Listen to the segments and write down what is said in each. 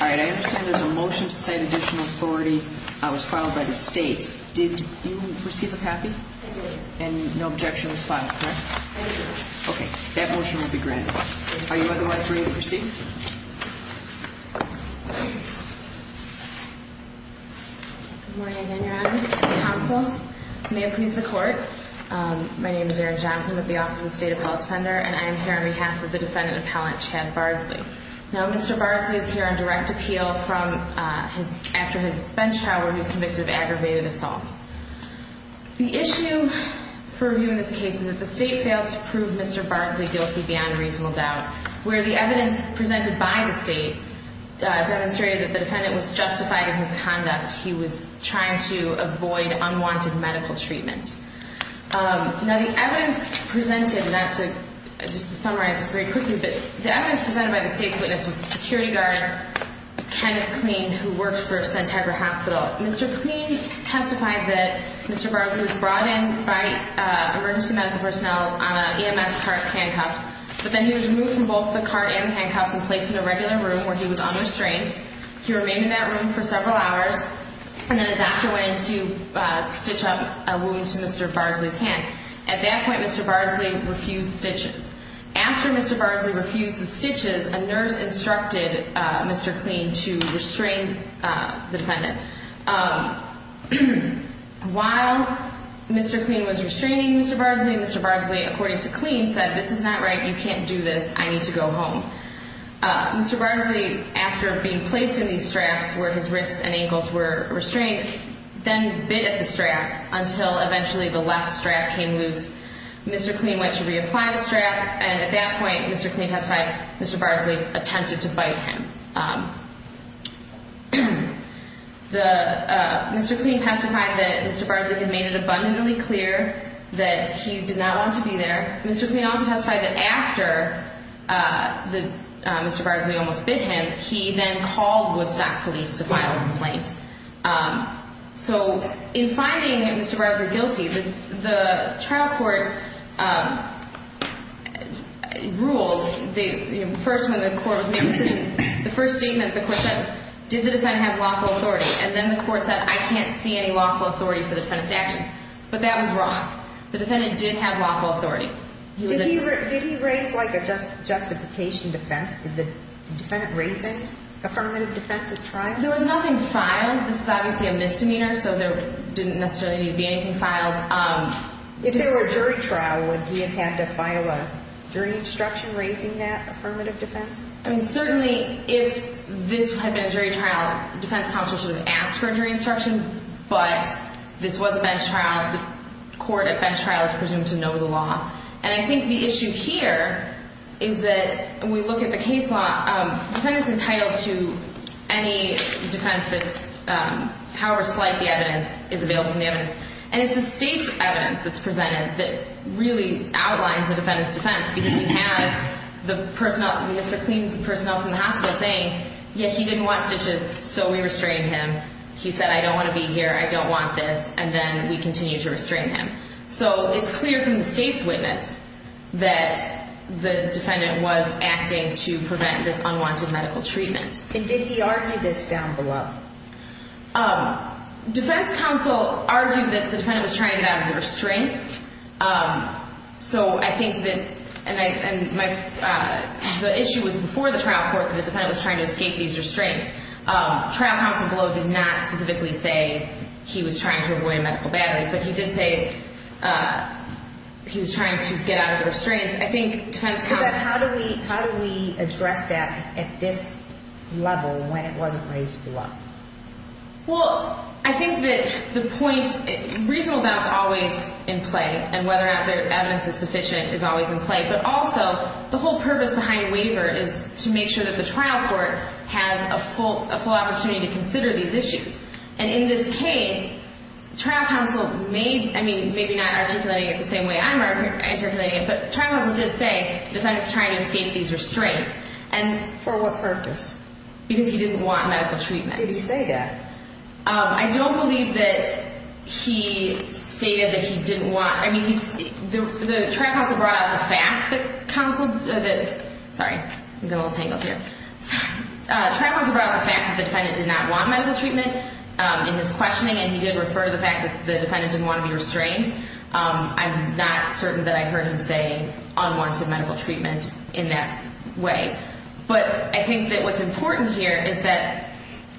I understand there's a motion to cite additional authority that was filed by the state. Did you receive a copy? And no objection was filed, correct? Okay, that motion will be granted. Are you otherwise ready to proceed? Good morning again, your honors, counsel. May it please the court. My name is Erin Johnson with the Office of the State Appellate Defender and I am here on behalf of the defendant appellant Chad Bardsley. Now Mr. Bardsley is here on behalf of the State Appellate Defender. The issue for reviewing this case is that the state failed to prove Mr. Bardsley guilty beyond reasonable doubt, where the evidence presented by the state demonstrated that the defendant was justified in his conduct. He was trying to avoid unwanted medical treatment. Now the evidence presented, and just to summarize it very quickly, the evidence presented by the state's witness was the security guard, Kenneth Clean, who worked for Santegra Hospital. Mr. Clean testified that Mr. Bardsley was brought in by emergency medical personnel on an EMS cart handcuffed, but then he was removed from both the cart and handcuffs and placed in a regular room where he was unrestrained. He remained in that room for several hours, and then a doctor went in to stitch up a wound to Mr. Bardsley's hand. At that point, Mr. Bardsley refused stitches. After Mr. Bardsley refused the stitches, a doctor went in and stitched up Mr. Bardsley's hand. While Mr. Clean was restraining Mr. Bardsley, Mr. Bardsley, according to Clean, said this is not right. You can't do this. I need to go home. Mr. Bardsley, after being placed in these straps where his wrists and ankles were restrained, then bit at the straps until eventually the left strap came loose. Mr. Clean went to reapply the strap, and at that point, Mr. Bardsley attempted to bite him. Mr. Clean testified that Mr. Bardsley had made it abundantly clear that he did not want to be there. Mr. Clean also testified that after Mr. Bardsley almost bit him, he then called Woodstock police to file a complaint. So in finding Mr. Bardsley guilty, the trial court ruled, first when the court was making decisions, the first statement the court said, did the defendant have lawful authority? And then the court said, I can't see any lawful authority for the defendant's actions. But that was wrong. The defendant did have lawful authority. Did he raise like a justification defense? Did the defendant raise an affirmative defense at trial? There was nothing filed. This is obviously a misdemeanor, so there didn't necessarily need to be anything filed. If there were a jury trial, would he have had to file a jury instruction raising that affirmative defense? I mean, certainly if this had been a jury trial, the defense counsel should have asked for a jury instruction. But this was a bench trial. The court at bench trial is presumed to know the law. And I think the issue here is that when we look at the case law, the defendant's entitled to any defense that's however slight the evidence is available from the evidence. And it's the state's evidence that's presented that really outlines the defendant's defense. Because we have the personnel, Mr. Clean's personnel from the hospital saying, yeah, he didn't want stitches, so we restrained him. He said, I don't want to be here. I don't want this. And then we continued to restrain him. So it's clear from the state's witness that the defendant was acting to prevent this unwanted medical treatment. And did he argue this down below? Defense counsel argued that the defendant was trying to get out of the restraints. So I think that the issue was before the trial court that the defendant was trying to escape these restraints. Trial counsel below did not specifically say he was trying to avoid a medical battery. But he did say he was trying to get out of the restraints. I think defense counsel — But how do we address that at this level when it wasn't raised below? Well, I think that the point — reasonable doubt is always in play. And whether or not the evidence is sufficient is always in play. But also, the whole purpose behind waiver is to make sure that the trial court has a full opportunity to consider these issues. And in this case, trial counsel made — I mean, maybe not articulating it the same way I'm articulating it, but trial counsel did say the defendant's trying to escape these restraints. For what purpose? Because he didn't want medical treatment. Did he say that? I don't believe that he stated that he didn't want — I mean, the trial counsel brought out the fact that counsel — sorry, I'm getting a little tangled here. Trial counsel brought out the fact that the defendant did not want medical treatment in his questioning, and he did refer to the fact that the defendant didn't want to be restrained. I'm not certain that I heard him say unwanted medical treatment in that way. But I think that what's important here is that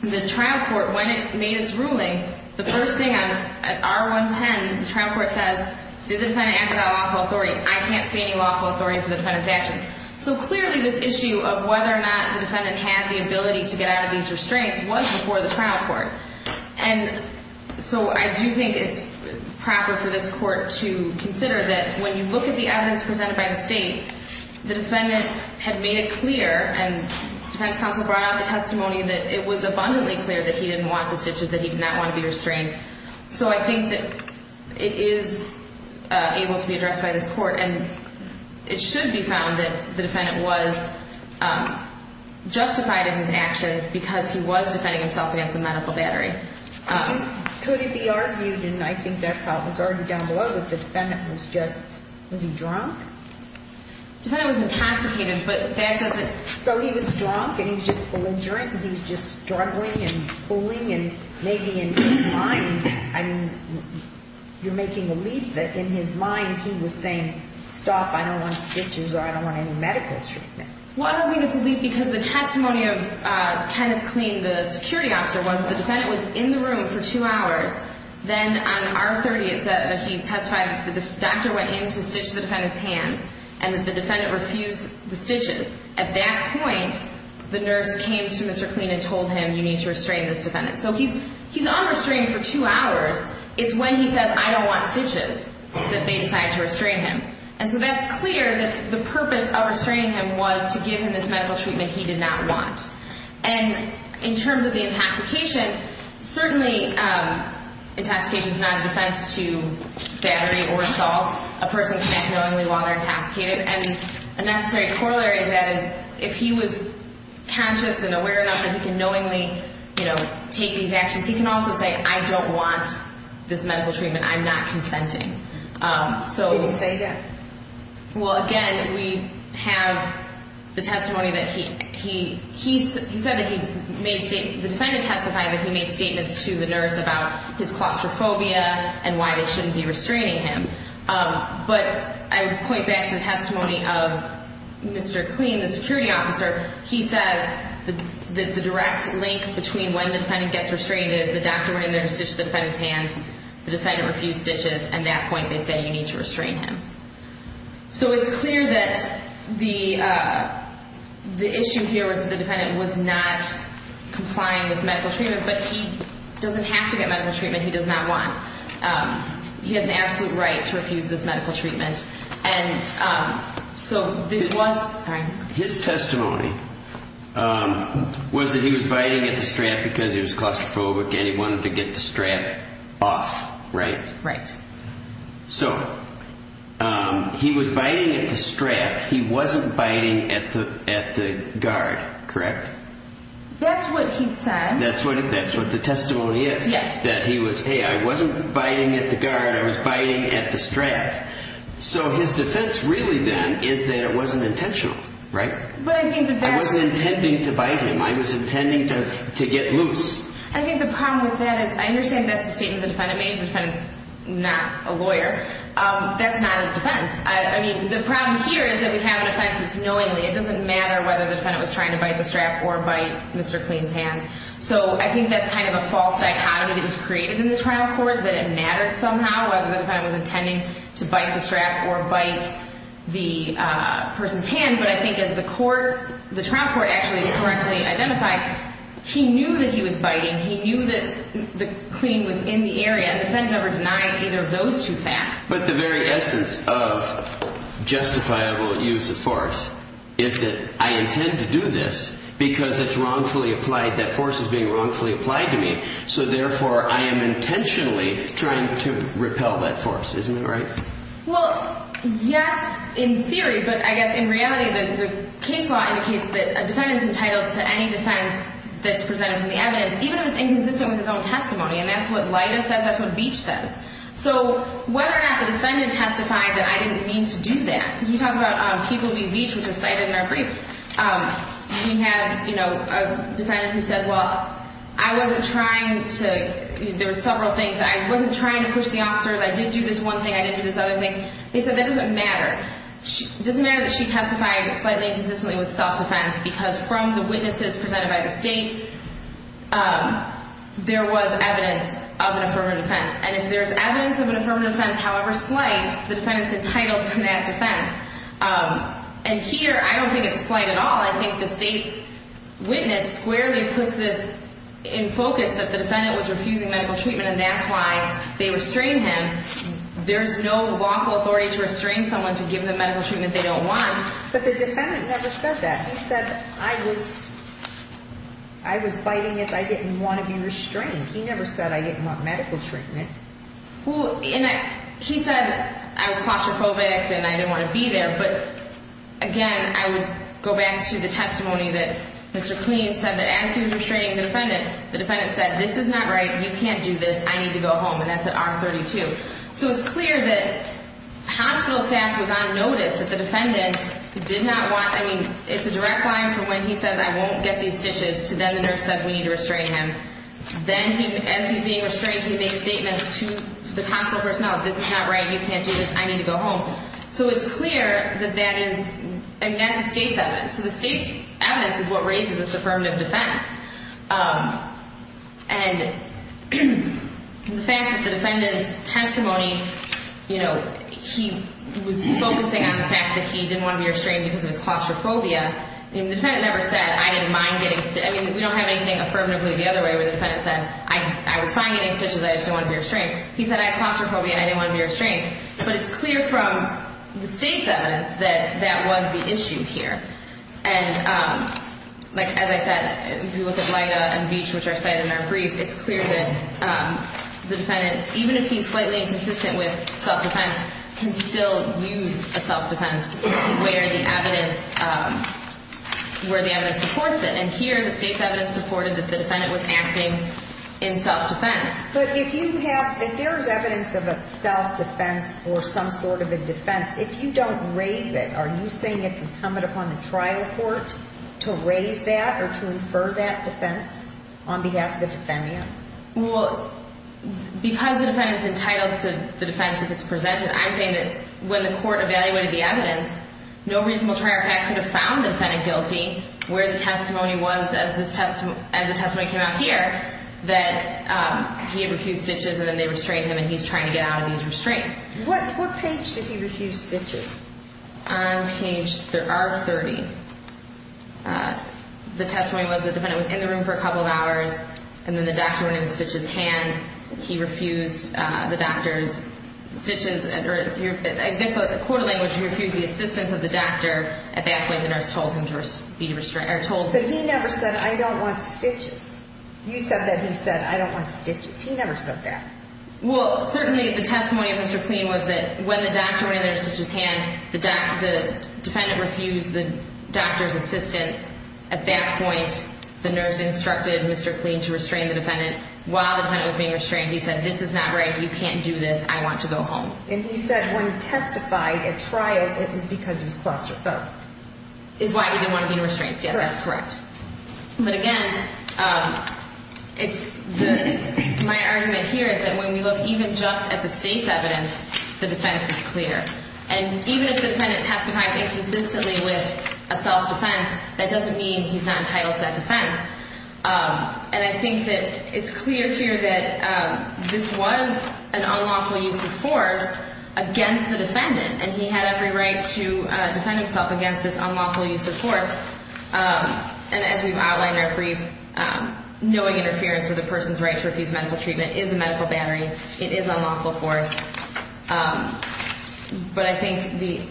the trial court, when it made its ruling, the first thing on R110, the trial court says, did the defendant act without lawful authority? I can't see any lawful authority for the defendant's actions. So clearly, this issue of whether or not the defendant had the ability to get out of these restraints was before the trial court. And so I do think it's proper for this Court to consider that when you look at the evidence presented by the State, the defendant had made it clear, and defense counsel brought out the testimony, that it was abundantly clear that he didn't want the stitches, that he did not want to be restrained. So I think that it is able to be addressed by this Court. And it should be found that the defendant was justified in his actions because he was defending himself against a medical battery. Could it be argued, and I think that's how it was argued down below, that the defendant was just — was he drunk? The defendant was intoxicated, but the fact is that — So he was drunk, and he was just pulling drink, and he was just struggling and pulling, and maybe in his mind — I mean, you're making a leap that in his mind he was saying, stop, I don't want stitches, or I don't want any medical treatment. Well, I don't think it's a leap because the testimony of Kenneth Clean, the security officer, was the defendant was in the room for two hours. Then on R30, it said that he testified that the doctor went in to stitch the defendant's hand, and the defendant refused the stitches. At that point, the nurse came to Mr. Clean and told him, you need to restrain this defendant. So he's unrestrained for two hours. It's when he says, I don't want stitches, that they decide to restrain him. And so that's clear that the purpose of restraining him was to give him this medical treatment he did not want. And in terms of the intoxication, certainly intoxication is not a defense to battery or stalls. A person can act knowingly while they're intoxicated. And a necessary corollary to that is if he was conscious and aware enough that he can knowingly, you know, take these actions, he can also say, I don't want this medical treatment. I'm not consenting. Can he say that? Well, again, we have the testimony that he — he said that he made — the defendant testified that he made statements to the nurse about his claustrophobia and why they shouldn't be restraining him. But I would point back to the testimony of Mr. Clean, the security officer. He says that the direct link between when the defendant gets restrained is the doctor wearing the stitch to the defendant's hand. The defendant refused stitches. At that point, they said, you need to restrain him. So it's clear that the issue here was that the defendant was not complying with medical treatment, but he doesn't have to get medical treatment. He does not want — he has an absolute right to refuse this medical treatment. And so this was — sorry. His testimony was that he was biting at the strap because he was claustrophobic and he wanted to get the strap off, right? Right. So he was biting at the strap. He wasn't biting at the guard, correct? That's what he said. That's what the testimony is, that he was, hey, I wasn't biting at the guard. I was biting at the strap. So his defense really then is that it wasn't intentional, right? I wasn't intending to bite him. I was intending to get loose. I think the problem with that is I understand that's the statement the defendant made. The defendant's not a lawyer. That's not a defense. I mean, the problem here is that we have an offense that's knowingly. It doesn't matter whether the defendant was trying to bite the strap or bite Mr. Kleen's hand. So I think that's kind of a false dichotomy that was created in the trial court, that it mattered somehow, whether the defendant was intending to bite the strap or bite the person's hand. But I think as the trial court actually correctly identified, he knew that he was biting. He knew that Kleen was in the area. The defendant never denied either of those two facts. But the very essence of justifiable use of force is that I intend to do this because it's wrongfully applied. That force is being wrongfully applied to me. So, therefore, I am intentionally trying to repel that force. Isn't that right? Well, yes, in theory. But I guess in reality the case law indicates that a defendant's entitled to any defense that's presented in the evidence, even if it's inconsistent with his own testimony. And that's what Leidas says. That's what Beach says. So whether or not the defendant testified that I didn't mean to do that, because we talk about people being beached, which is cited in our brief. We had a defendant who said, well, I wasn't trying to – there were several things. I wasn't trying to push the officers. I did do this one thing. I didn't do this other thing. They said that doesn't matter. It doesn't matter that she testified slightly inconsistently with self-defense because from the witnesses presented by the state, there was evidence of an affirmative defense. And if there's evidence of an affirmative defense, however slight, the defendant's entitled to that defense. And here I don't think it's slight at all. I think the state's witness squarely puts this in focus that the defendant was refusing medical treatment and that's why they restrained him. There's no lawful authority to restrain someone to give them medical treatment they don't want. But the defendant never said that. He said I was biting it. I didn't want to be restrained. He never said I didn't want medical treatment. He said I was claustrophobic and I didn't want to be there. But, again, I would go back to the testimony that Mr. Cleen said that as he was restraining the defendant, the defendant said this is not right. You can't do this. I need to go home. And that's at R32. So it's clear that hospital staff was on notice that the defendant did not want – I mean it's a direct line from when he said I won't get these stitches to then the nurse says we need to restrain him. Then as he's being restrained, he makes statements to the hospital personnel. This is not right. You can't do this. I need to go home. So it's clear that that is – I mean that's the state's evidence. So the state's evidence is what raises this affirmative defense. And the fact that the defendant's testimony, you know, he was focusing on the fact that he didn't want to be restrained because of his claustrophobia. The defendant never said I didn't mind getting – I mean we don't have anything affirmatively the other way where the defendant said I was fine getting stitches. I just didn't want to be restrained. He said I had claustrophobia and I didn't want to be restrained. But it's clear from the state's evidence that that was the issue here. And like as I said, if you look at Leida and Beach, which are cited in our brief, it's clear that the defendant, even if he's slightly inconsistent with self-defense, can still use a self-defense where the evidence – where the evidence supports it. And here the state's evidence supported that the defendant was acting in self-defense. But if you have – if there is evidence of a self-defense or some sort of a defense, if you don't raise it, are you saying it's incumbent upon the trial court to raise that or to infer that defense on behalf of the defendant? Well, because the defendant's entitled to the defense if it's presented, I'm saying that when the court evaluated the evidence, no reasonable trial court could have found the defendant guilty where the testimony was as the testimony came out here that he had refused stitches and then they restrained him and he's trying to get out of these restraints. What page did he refuse stitches? On page – there are 30. The testimony was the defendant was in the room for a couple of hours and then the doctor went in and stitched his hand. He refused the doctor's stitches. In court language, he refused the assistance of the doctor. At that point, the nurse told him to be restrained – or told him. But he never said, I don't want stitches. You said that he said, I don't want stitches. He never said that. Well, certainly the testimony of Mr. Kleen was that when the doctor went in there and stitched his hand, the defendant refused the doctor's assistance. At that point, the nurse instructed Mr. Kleen to restrain the defendant. While the defendant was being restrained, he said, this is not right. You can't do this. I want to go home. And he said when he testified at trial, it was because he was claustrophobic. Is why he didn't want to be in restraints. Yes, that's correct. But again, my argument here is that when we look even just at the state's evidence, the defense is clear. And even if the defendant testifies inconsistently with a self-defense, that doesn't mean he's not entitled to that defense. And I think that it's clear here that this was an unlawful use of force against the defendant. And he had every right to defend himself against this unlawful use of force. And as we've outlined in our brief, knowing interference with a person's right to refuse medical treatment is a medical battery. It is unlawful force. But I think the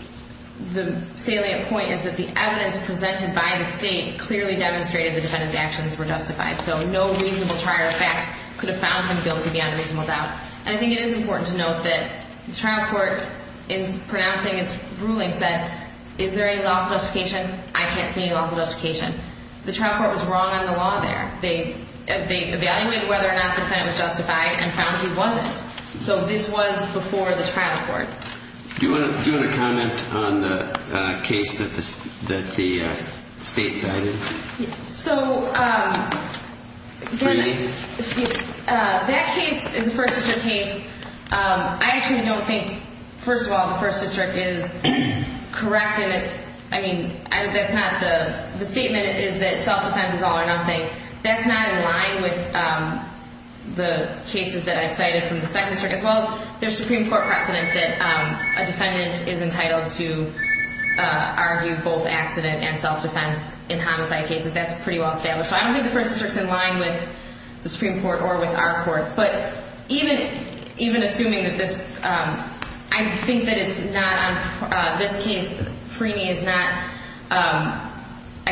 salient point is that the evidence presented by the state clearly demonstrated the defendant's actions were justified. So no reasonable trier of fact could have found him guilty beyond reasonable doubt. And I think it is important to note that the trial court in pronouncing its ruling said is there any lawful justification? I can't see any lawful justification. The trial court was wrong on the law there. They evaluated whether or not the defendant was justified and found he wasn't. So this was before the trial court. Do you want to comment on the case that the state cited? So that case is a first district case. I actually don't think, first of all, the first district is correct. I mean, the statement is that self-defense is all or nothing. That's not in line with the cases that I've cited from the second district as well as the Supreme Court precedent that a defendant is entitled to argue both accident and self-defense in homicide cases. That's pretty well established. So I don't think the first district is in line with the Supreme Court or with our court. But even assuming that this, I think that it's not on this case, Freeney is not, I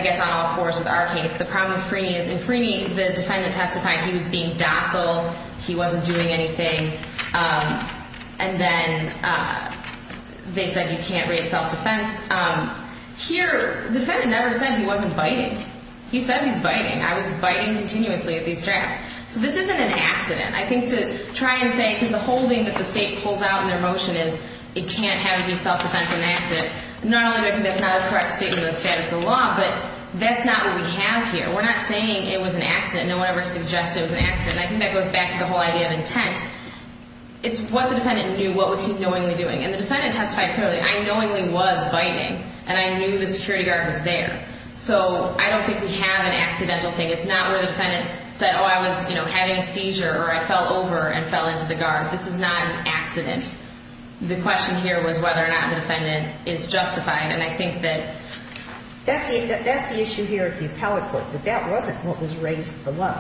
guess, on all fours with our case. The problem with Freeney is in Freeney the defendant testified he was being docile. He wasn't doing anything. And then they said you can't raise self-defense. Here the defendant never said he wasn't biting. He said he's biting. I was biting continuously at these straps. So this isn't an accident. I think to try and say, because the whole thing that the state pulls out in their motion is it can't have you do self-defense in an accident. Not only do I think that's not a correct statement of the status of the law, but that's not what we have here. We're not saying it was an accident. No one ever suggested it was an accident. And I think that goes back to the whole idea of intent. It's what the defendant knew, what was he knowingly doing. And the defendant testified clearly. I knowingly was biting. And I knew the security guard was there. So I don't think we have an accidental thing. It's not where the defendant said, oh, I was, you know, having a seizure, or I fell over and fell into the guard. This is not an accident. The question here was whether or not the defendant is justifying. And I think that that's the issue here at the appellate court, that that wasn't what was raised below.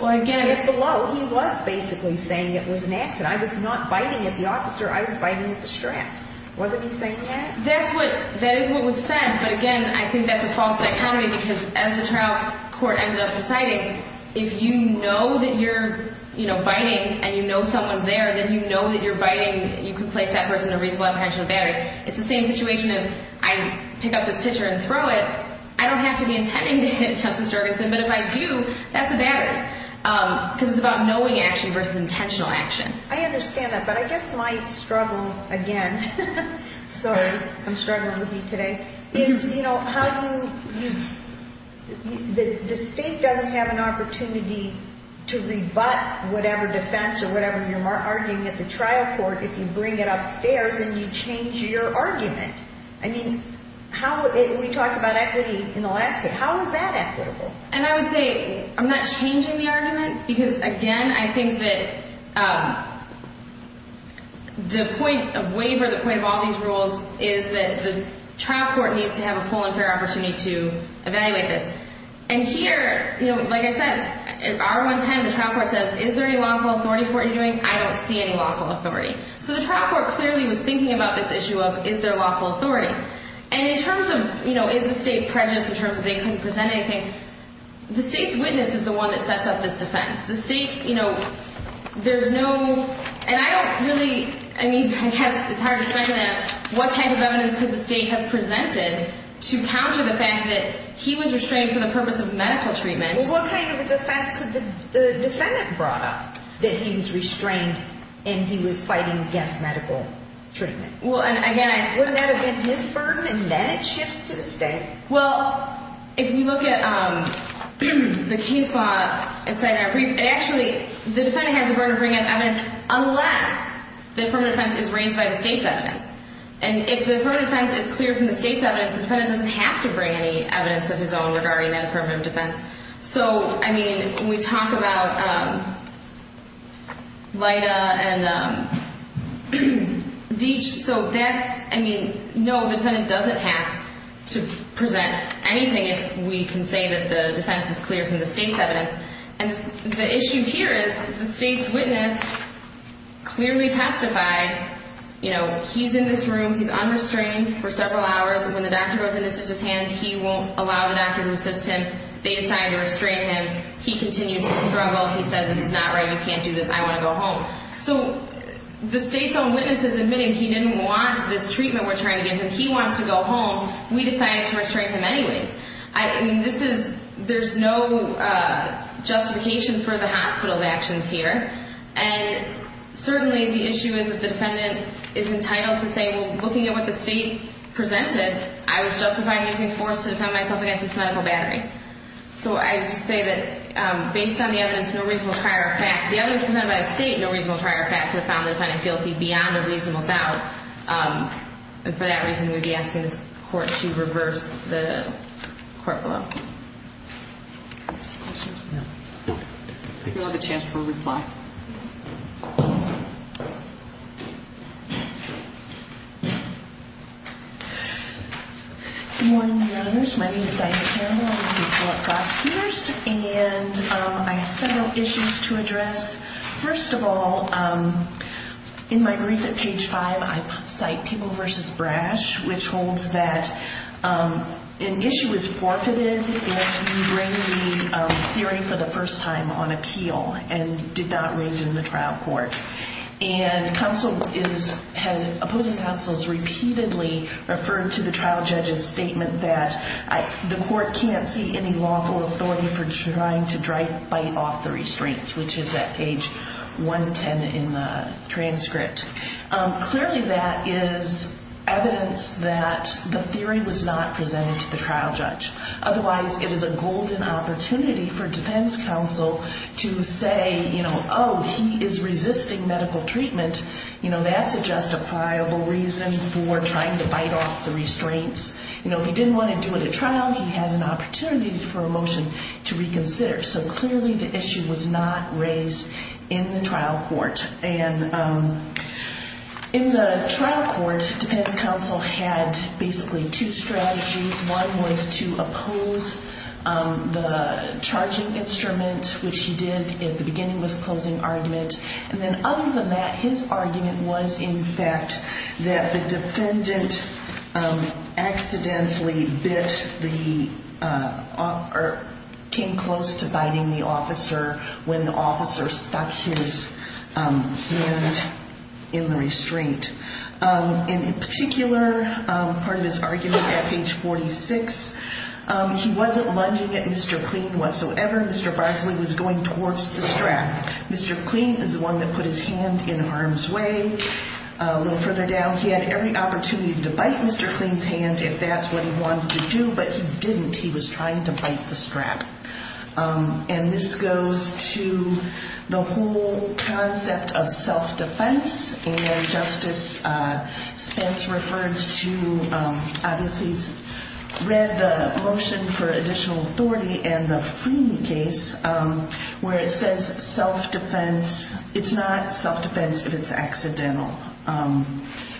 Below, he was basically saying it was an accident. I was not biting at the officer. I was biting at the straps. Wasn't he saying that? That is what was said. But, again, I think that's a false dichotomy, because as the trial court ended up deciding, if you know that you're biting and you know someone's there, then you know that you're biting, you can place that person in a reasonable apprehension of battery. It's the same situation if I pick up this pitcher and throw it. I don't have to be intending to hit Justice Jorgensen. But if I do, that's a battery, because it's about knowing action versus intentional action. I understand that. But I guess my struggle, again, sorry, I'm struggling with you today, is, you know, how do you – the state doesn't have an opportunity to rebut whatever defense or whatever you're arguing at the trial court if you bring it upstairs and you change your argument. I mean, how – we talked about equity in the last case. How is that equitable? And I would say I'm not changing the argument, because, again, I think that the point of waiver, the point of all these rules, is that the trial court needs to have a full and fair opportunity to evaluate this. And here, like I said, in R110, the trial court says, is there any lawful authority for what you're doing? I don't see any lawful authority. So the trial court clearly was thinking about this issue of, is there lawful authority? And in terms of, you know, is the state prejudiced in terms of they couldn't present anything, the state's witness is the one that sets up this defense. The state, you know, there's no – and I don't really – I mean, I guess it's hard to speculate what type of evidence could the state have presented to counter the fact that he was restrained for the purpose of medical treatment. Well, what kind of defense could the defendant brought up that he was restrained and he was fighting against medical treatment? Well, and again, I – Wouldn't that have been his burden, and then it shifts to the state? Well, if you look at the case law, as I said in our brief, it actually – the defendant has the burden of bringing up evidence unless the affirmative defense is raised by the state's evidence. And if the affirmative defense is clear from the state's evidence, the defendant doesn't have to bring any evidence of his own regarding that affirmative defense. So, I mean, when we talk about Leida and Veatch, so that's – I mean, no, the defendant doesn't have to present anything if we can say that the defense is clear from the state's evidence. And the issue here is the state's witness clearly testified, you know, he's in this room, he's unrestrained for several hours, and when the doctor goes in to touch his hand, he won't allow the doctor to assist him. They decide to restrain him. He continues to struggle. He says, this is not right, you can't do this, I want to go home. So the state's own witness is admitting he didn't want this treatment we're trying to give him. He wants to go home. We decided to restrain him anyways. I mean, this is – there's no justification for the hospital's actions here. And certainly the issue is that the defendant is entitled to say, well, looking at what the state presented, I was justified in using force to defend myself against this medical battery. So I would say that based on the evidence, no reasonable trier of fact, the evidence presented by the state, no reasonable trier of fact, would have found the defendant guilty beyond a reasonable doubt. And for that reason, we would be asking this court to reverse the court blow. Questions? No. We'll have a chance for a reply. Good morning, Your Honors. My name is Diana Caramel. I'm with the Court Prosecutors. And I have several issues to address. First of all, in my brief at page 5, I cite People v. Brash, which holds that an issue is forfeited if you bring the theory for the first time on appeal and did not raise it in the trial court. And opposing counsels repeatedly referred to the trial judge's statement that the court can't see any lawful authority for trying to bite off the restraints, which is at page 110 in the transcript. Clearly, that is evidence that the theory was not presented to the trial judge. Otherwise, it is a golden opportunity for defense counsel to say, you know, oh, he is resisting medical treatment. You know, that's a justifiable reason for trying to bite off the restraints. You know, if he didn't want to do it at trial, he has an opportunity for a motion to reconsider. So clearly, the issue was not raised in the trial court. And in the trial court, defense counsel had basically two strategies. One was to oppose the charging instrument, which he did at the beginning of his closing argument. And then other than that, his argument was, in fact, that the defendant accidentally bit the or came close to biting the officer when the officer stuck his hand in the restraint. And in particular, part of his argument at page 46, he wasn't lunging at Mr. Klien whatsoever. Mr. Broxley was going towards the strap. Mr. Klien is the one that put his hand in harm's way. A little further down, he had every opportunity to bite Mr. Klien's hand if that's what he wanted to do, but he didn't. He was trying to bite the strap. And this goes to the whole concept of self-defense. And Justice Spence referred to, obviously, read the motion for additional authority and the Frieden case where it says self-defense. It's not self-defense if it's accidental.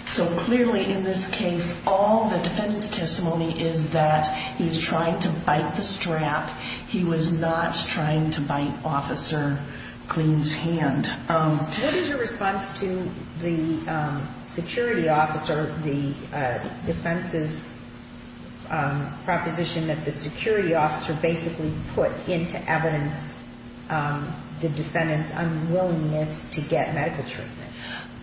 So clearly in this case, all the defendant's testimony is that he was trying to bite the strap. He was not trying to bite Officer Klien's hand. What is your response to the security officer, the defense's proposition that the security officer basically put into evidence the defendant's unwillingness to get medical treatment?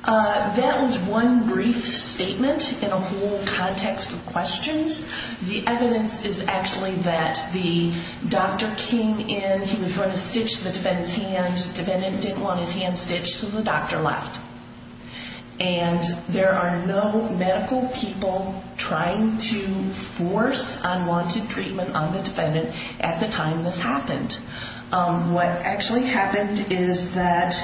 That was one brief statement in a whole context of questions. The evidence is actually that the doctor came in. He was going to stitch the defendant's hand. The defendant didn't want his hand stitched, so the doctor left. And there are no medical people trying to force unwanted treatment on the defendant at the time this happened. What actually happened is that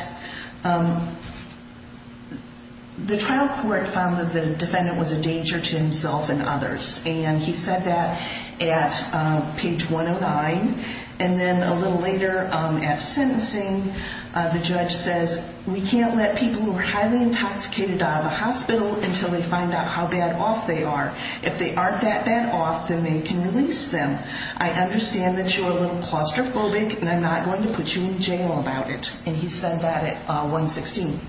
the trial court found that the defendant was a danger to himself and others. And he said that at page 109. And then a little later at sentencing, the judge says, We can't let people who are highly intoxicated out of the hospital until they find out how bad off they are. If they aren't that bad off, then they can release them. I understand that you're a little claustrophobic, and I'm not going to put you in jail about it. And he said that at 116.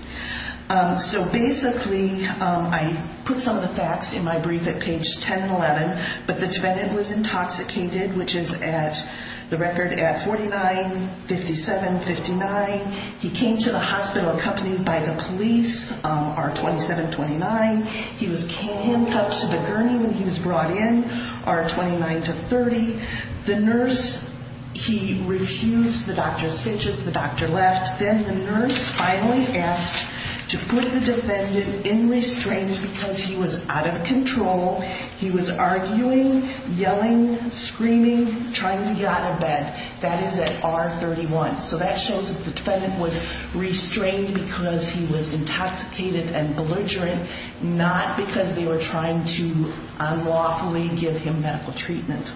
So basically, I put some of the facts in my brief at pages 10 and 11. But the defendant was intoxicated, which is at the record at 49, 57, 59. He came to the hospital accompanied by the police, R27, 29. He was handcuffed to the gurney when he was brought in, R29 to 30. The nurse, he refused. The doctor stitches. The doctor left. Then the nurse finally asked to put the defendant in restraints because he was out of control. He was arguing, yelling, screaming, trying to get out of bed. That is at R31. So that shows that the defendant was restrained because he was intoxicated and belligerent, not because they were trying to unlawfully give him medical treatment.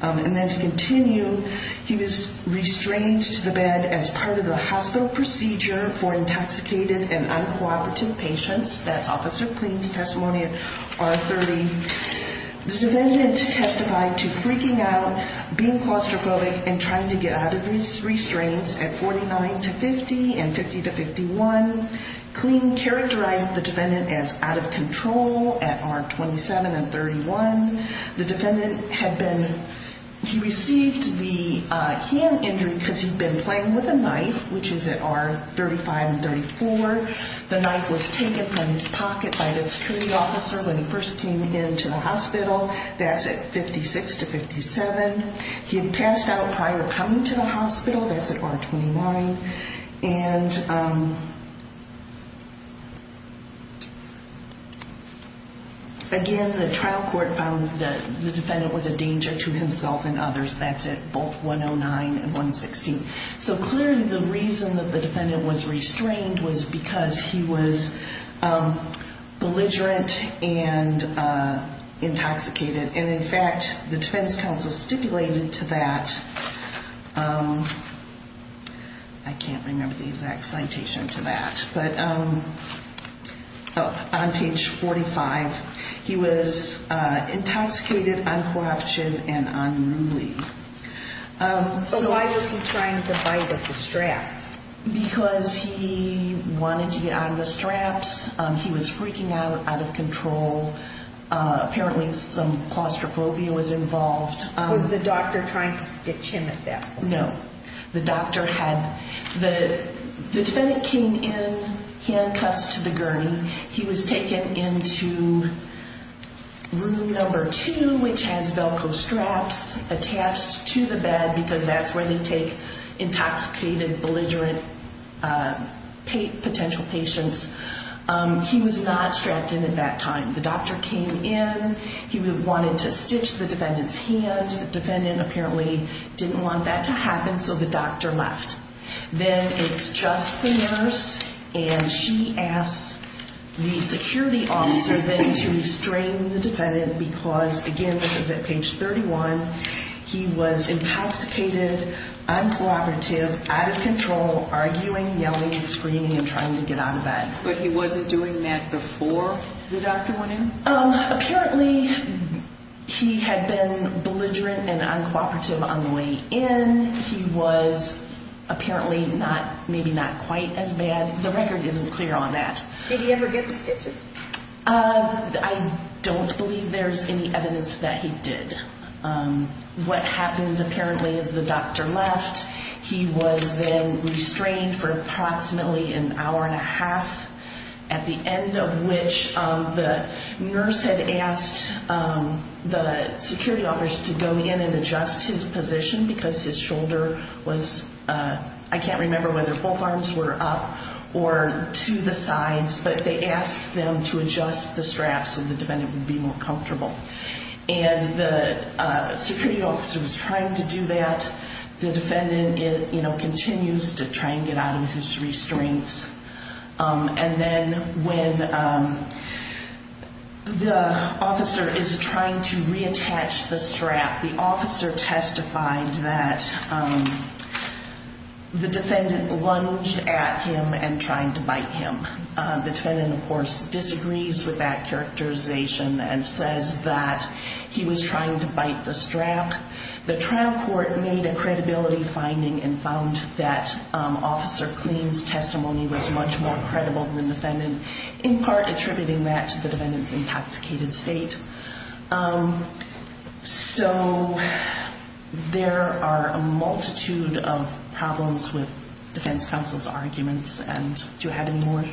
And then to continue, he was restrained to the bed as part of the hospital procedure for intoxicated and uncooperative patients. That's Officer Cleen's testimony at R30. The defendant testified to freaking out, being claustrophobic, and trying to get out of his restraints at 49 to 50 and 50 to 51. Cleen characterized the defendant as out of control at R27 and 31. The defendant had been he received the hand injury because he'd been playing with a knife, which is at R35 and 34. The knife was taken from his pocket by the security officer when he first came into the hospital. That's at 56 to 57. He had passed out prior to coming to the hospital. That's at R29. And again, the trial court found that the defendant was a danger to himself and others. That's at both 109 and 116. So clearly the reason that the defendant was restrained was because he was belligerent and intoxicated. And in fact, the defense counsel stipulated to that. I can't remember the exact citation to that. But on page 45, he was intoxicated, uncooption, and unruly. But why was he trying to bite at the straps? Because he wanted to get on the straps. He was freaking out, out of control. Apparently some claustrophobia was involved. Was the doctor trying to stitch him at that point? No. The doctor had the defendant came in handcuffs to the gurney. He was taken into room number two, which has Velcro straps attached to the bed, because that's where they take intoxicated, belligerent potential patients. He was not strapped in at that time. The doctor came in. He wanted to stitch the defendant's hand. The defendant apparently didn't want that to happen, so the doctor left. Then it's just the nurse, and she asked the security officer then to restrain the defendant because, again, this is at page 31. He was intoxicated, uncooperative, out of control, arguing, yelling, screaming, and trying to get out of bed. But he wasn't doing that before the doctor went in? Apparently he had been belligerent and uncooperative on the way in. He was apparently maybe not quite as bad. The record isn't clear on that. Did he ever get the stitches? I don't believe there's any evidence that he did. What happened apparently is the doctor left. He was then restrained for approximately an hour and a half, at the end of which the nurse had asked the security officer to go in and adjust his position because his shoulder was up. I can't remember whether both arms were up or to the sides, but they asked them to adjust the straps so the defendant would be more comfortable. The security officer was trying to do that. The defendant continues to try and get out of his restraints. And then when the officer is trying to reattach the strap, the officer testified that the defendant lunged at him and tried to bite him. The defendant, of course, disagrees with that characterization and says that he was trying to bite the strap. The trial court made a credibility finding and found that Officer Cleen's testimony was much more credible than the defendant's, in part attributing that to the defendant's intoxicated state. So there are a multitude of problems with defense counsel's arguments. Do you have any more?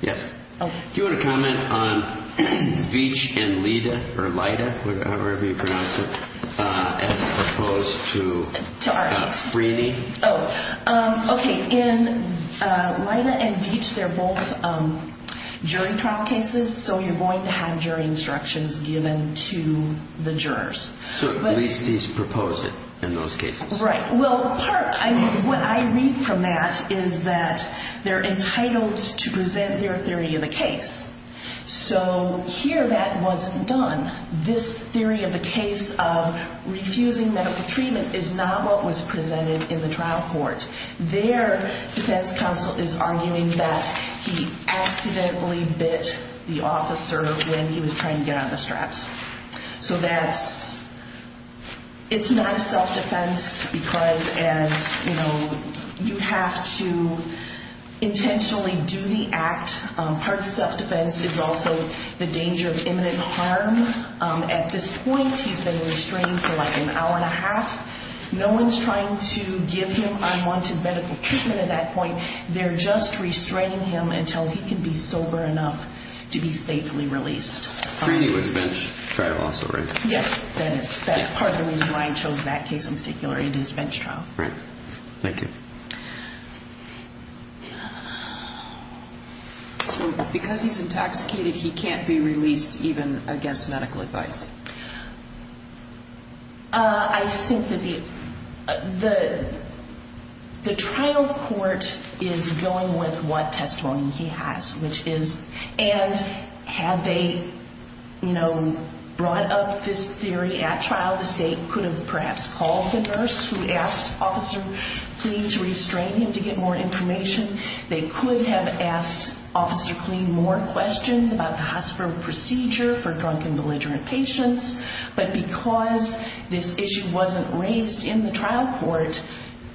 Yes. Do you want to comment on Veach and Lida, or Lida, however you pronounce it, as opposed to Freeny? Okay. In Lida and Veach, they're both jury trial cases, so you're going to have jury instructions given to the jurors. So at least he's proposed it in those cases. Right. Well, what I read from that is that they're entitled to present their theory of the case. So here that wasn't done. This theory of the case of refusing medical treatment is not what was presented in the trial court. Their defense counsel is arguing that he accidentally bit the officer when he was trying to get on the straps. So it's not a self-defense because you have to intentionally do the act. Part of self-defense is also the danger of imminent harm. At this point, he's been restrained for like an hour and a half. No one's trying to give him unwanted medical treatment at that point. They're just restraining him until he can be sober enough to be safely released. Freely was bench trial also, right? Yes. That's part of the reason why I chose that case in particular in his bench trial. Right. Thank you. So because he's intoxicated, he can't be released even against medical advice. I think that the trial court is going with what testimony he has, and had they brought up this theory at trial, the state could have perhaps called the nurse who asked Officer Kleen to restrain him to get more information. They could have asked Officer Kleen more questions about the hospital procedure for drunk and belligerent patients, but because this issue wasn't raised in the trial court,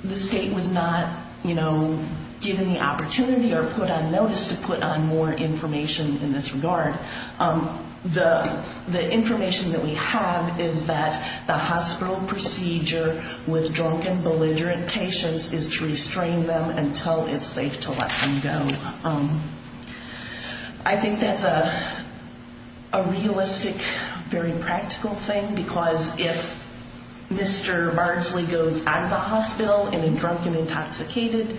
the state was not given the opportunity or put on notice to put on more information in this regard. The information that we have is that the hospital procedure with drunk and belligerent patients is to restrain them until it's safe to let them go. I think that's a realistic, very practical thing, because if Mr. Barnsley goes out of the hospital in a drunk and intoxicated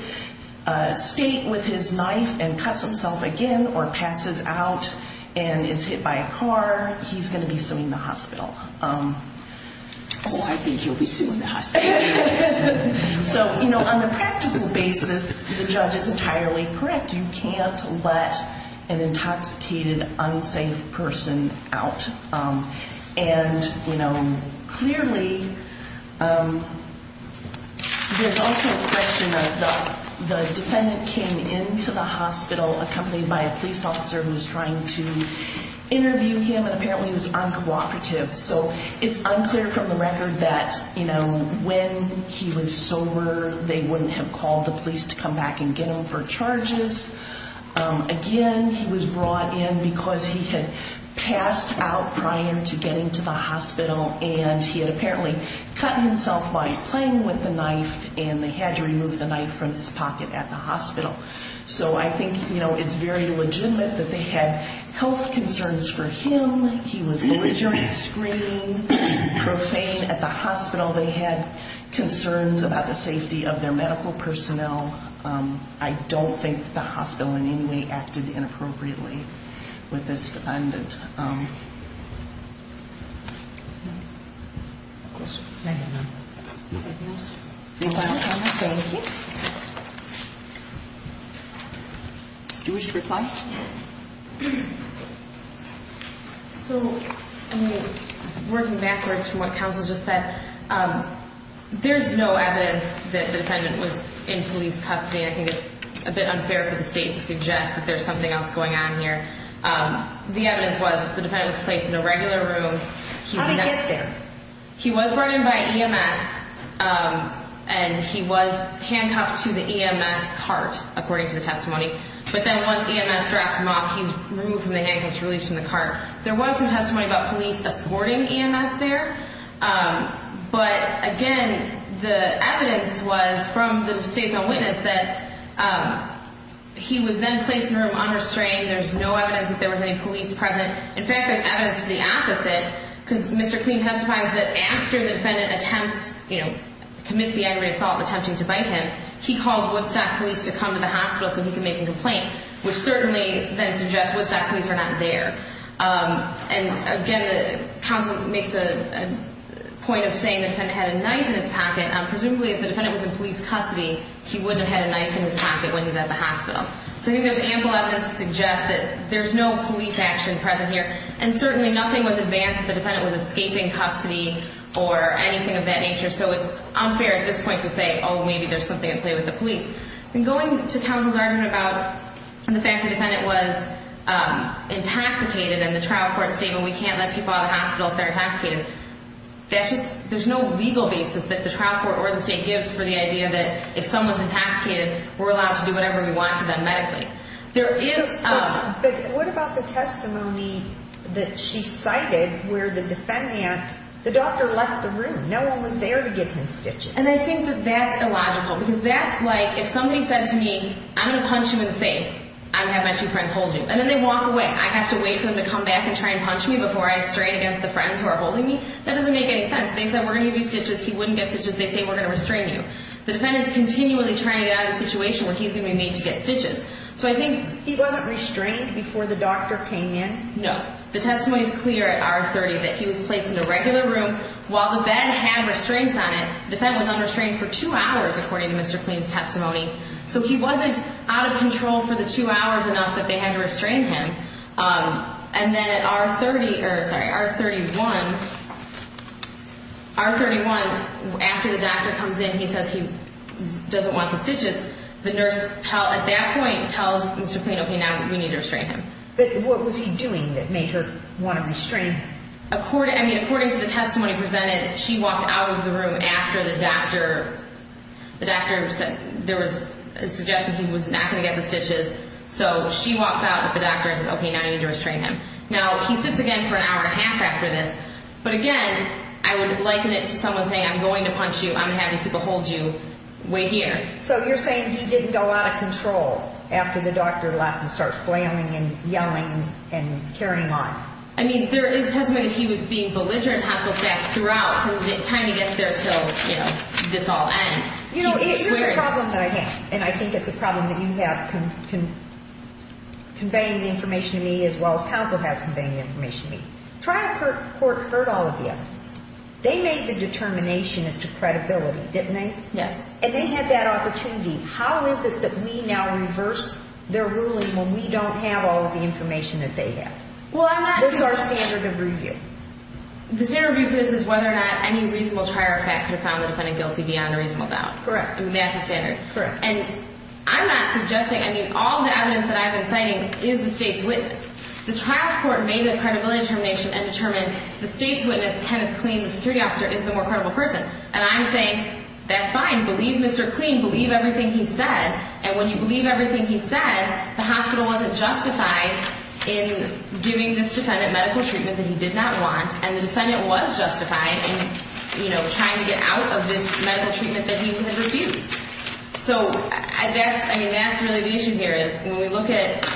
state with his knife and cuts himself again or passes out and is hit by a car, he's going to be suing the hospital. Oh, I think he'll be suing the hospital. So, you know, on a practical basis, the judge is entirely correct. You can't let an intoxicated, unsafe person out. And, you know, clearly there's also a question of the defendant came into the hospital accompanied by a police officer who was trying to interview him, and apparently he was uncooperative. So it's unclear from the record that, you know, when he was sober, they wouldn't have called the police to come back and get him for charges. Again, he was brought in because he had passed out prior to getting to the hospital, and he had apparently cut himself by playing with the knife, and they had to remove the knife from his pocket at the hospital. So I think, you know, it's very legitimate that they had health concerns for him. He was belligerent, screaming, profane at the hospital. They had concerns about the safety of their medical personnel. I don't think that the hospital in any way acted inappropriately with this defendant. Do you wish to reply? So, I mean, working backwards from what counsel just said, there's no evidence that the defendant was in police custody. I think it's a bit unfair for the state to suggest that there's something else going on here. The evidence was the defendant was placed in a regular room. How did he get there? He was brought in by EMS, and he was handcuffed to the EMS cart, according to the testimony. But then once EMS dropped him off, he was removed from the handcuffs, released from the cart. There was some testimony about police escorting EMS there, but, again, the evidence was from the state's own witness that he was then placed in a room unrestrained. There's no evidence that there was any police present. In fact, there's evidence to the opposite, because Mr. Kleen testifies that after the defendant attempts, you know, commits the aggravated assault, attempting to bite him, he calls Woodstock police to come to the hospital so he can make a complaint, which certainly then suggests Woodstock police are not there. And, again, the counsel makes the point of saying the defendant had a knife in his pocket. Presumably, if the defendant was in police custody, he wouldn't have had a knife in his pocket when he's at the hospital. So I think there's ample evidence to suggest that there's no police action present here, and certainly nothing was advanced that the defendant was escaping custody or anything of that nature. So it's unfair at this point to say, oh, maybe there's something at play with the police. And going to counsel's argument about the fact the defendant was intoxicated and the trial court statement we can't let people out of the hospital if they're intoxicated, that's just – there's no legal basis that the trial court or the state gives for the idea that if someone's intoxicated, we're allowed to do whatever we want to them medically. There is – But what about the testimony that she cited where the defendant – the doctor left the room. No one was there to give him stitches. And I think that that's illogical because that's like if somebody said to me, I'm going to punch you in the face. I have my two friends hold you. And then they walk away. I have to wait for them to come back and try and punch me before I strain against the friends who are holding me? That doesn't make any sense. They said we're going to give you stitches. He wouldn't get stitches. They say we're going to restrain you. The defendant's continually trying to get out of the situation where he's going to be made to get stitches. So I think – He wasn't restrained before the doctor came in? No. The testimony is clear at R30 that he was placed in a regular room. While the bed had restraints on it, the defendant was unrestrained for two hours, according to Mr. Cleen's testimony. So he wasn't out of control for the two hours enough that they had to restrain him. And then at R30 – or, sorry, R31 – R31, after the doctor comes in, he says he doesn't want the stitches. The nurse at that point tells Mr. Cleen, okay, now we need to restrain him. But what was he doing that made her want to restrain him? According to the testimony presented, she walked out of the room after the doctor – the doctor said there was a suggestion he was not going to get the stitches. So she walks out with the doctor and says, okay, now you need to restrain him. Now, he sits again for an hour and a half after this. But, again, I would liken it to someone saying, I'm going to punch you. I'm going to have these people hold you. Wait here. So you're saying he didn't go out of control after the doctor left and started flailing and yelling and carrying on? I mean, there is testimony that he was being belligerent, hassle-sacked throughout, from the time he gets there until, you know, this all ends. You know, here's the problem that I have. And I think it's a problem that you have conveying the information to me as well as counsel has conveying the information to me. Triad Court heard all of you. They made the determination as to credibility, didn't they? Yes. And they had that opportunity. How is it that we now reverse their ruling when we don't have all of the information that they have? Well, I'm not saying— This is our standard of review. The standard review for this is whether or not any reasonable trier of fact could have found the defendant guilty beyond a reasonable doubt. Correct. I mean, that's the standard. Correct. And I'm not suggesting—I mean, all the evidence that I've been citing is the state's witness. The Triad Court made the credibility determination and determined the state's witness, Kenneth Kleen, the security officer, is the more credible person. And I'm saying, that's fine. Believe Mr. Kleen. Believe everything he said. And when you believe everything he said, the hospital wasn't justified in giving this defendant medical treatment that he did not want, and the defendant was justified in, you know, trying to get out of this medical treatment that he had refused. So I guess—I mean, that's really the issue here is when we look at—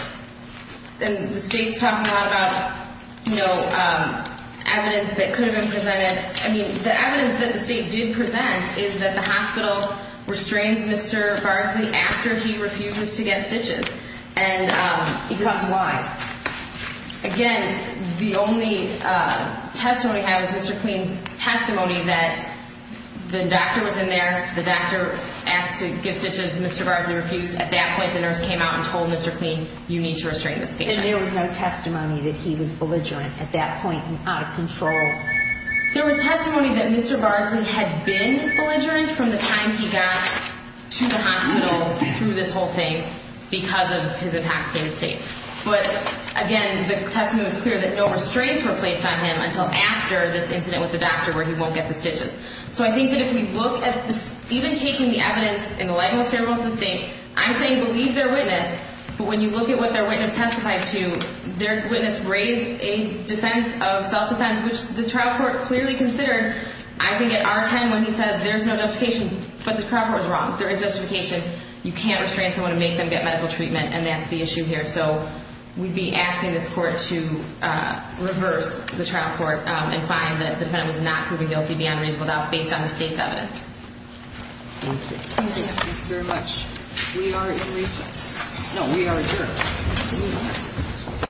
and the state's talking a lot about, you know, evidence that could have been presented. I mean, the evidence that the state did present is that the hospital restrains Mr. Barsley after he refuses to get stitches. Because why? Again, the only testimony I have is Mr. Kleen's testimony that the doctor was in there, the doctor asked to give stitches, Mr. Barsley refused. At that point, the nurse came out and told Mr. Kleen, you need to restrain this patient. And there was no testimony that he was belligerent at that point and out of control? There was testimony that Mr. Barsley had been belligerent from the time he got to the hospital through this whole thing because of his intoxicated state. But again, the testimony was clear that no restraints were placed on him until after this incident with the doctor where he won't get the stitches. So I think that if we look at this—even taking the evidence in the light most favorable to the state, I'm saying believe their witness, but when you look at what their witness testified to, their witness raised a defense of self-defense, which the trial court clearly considered. I think at our time when he says there's no justification, but the trial court was wrong. There is justification. You can't restrain someone and make them get medical treatment, and that's the issue here. So we'd be asking this court to reverse the trial court and find that the defendant was not proven guilty beyond reasonable doubt based on the state's evidence. Thank you very much. We are in recess. No, we are adjourned. Thank you.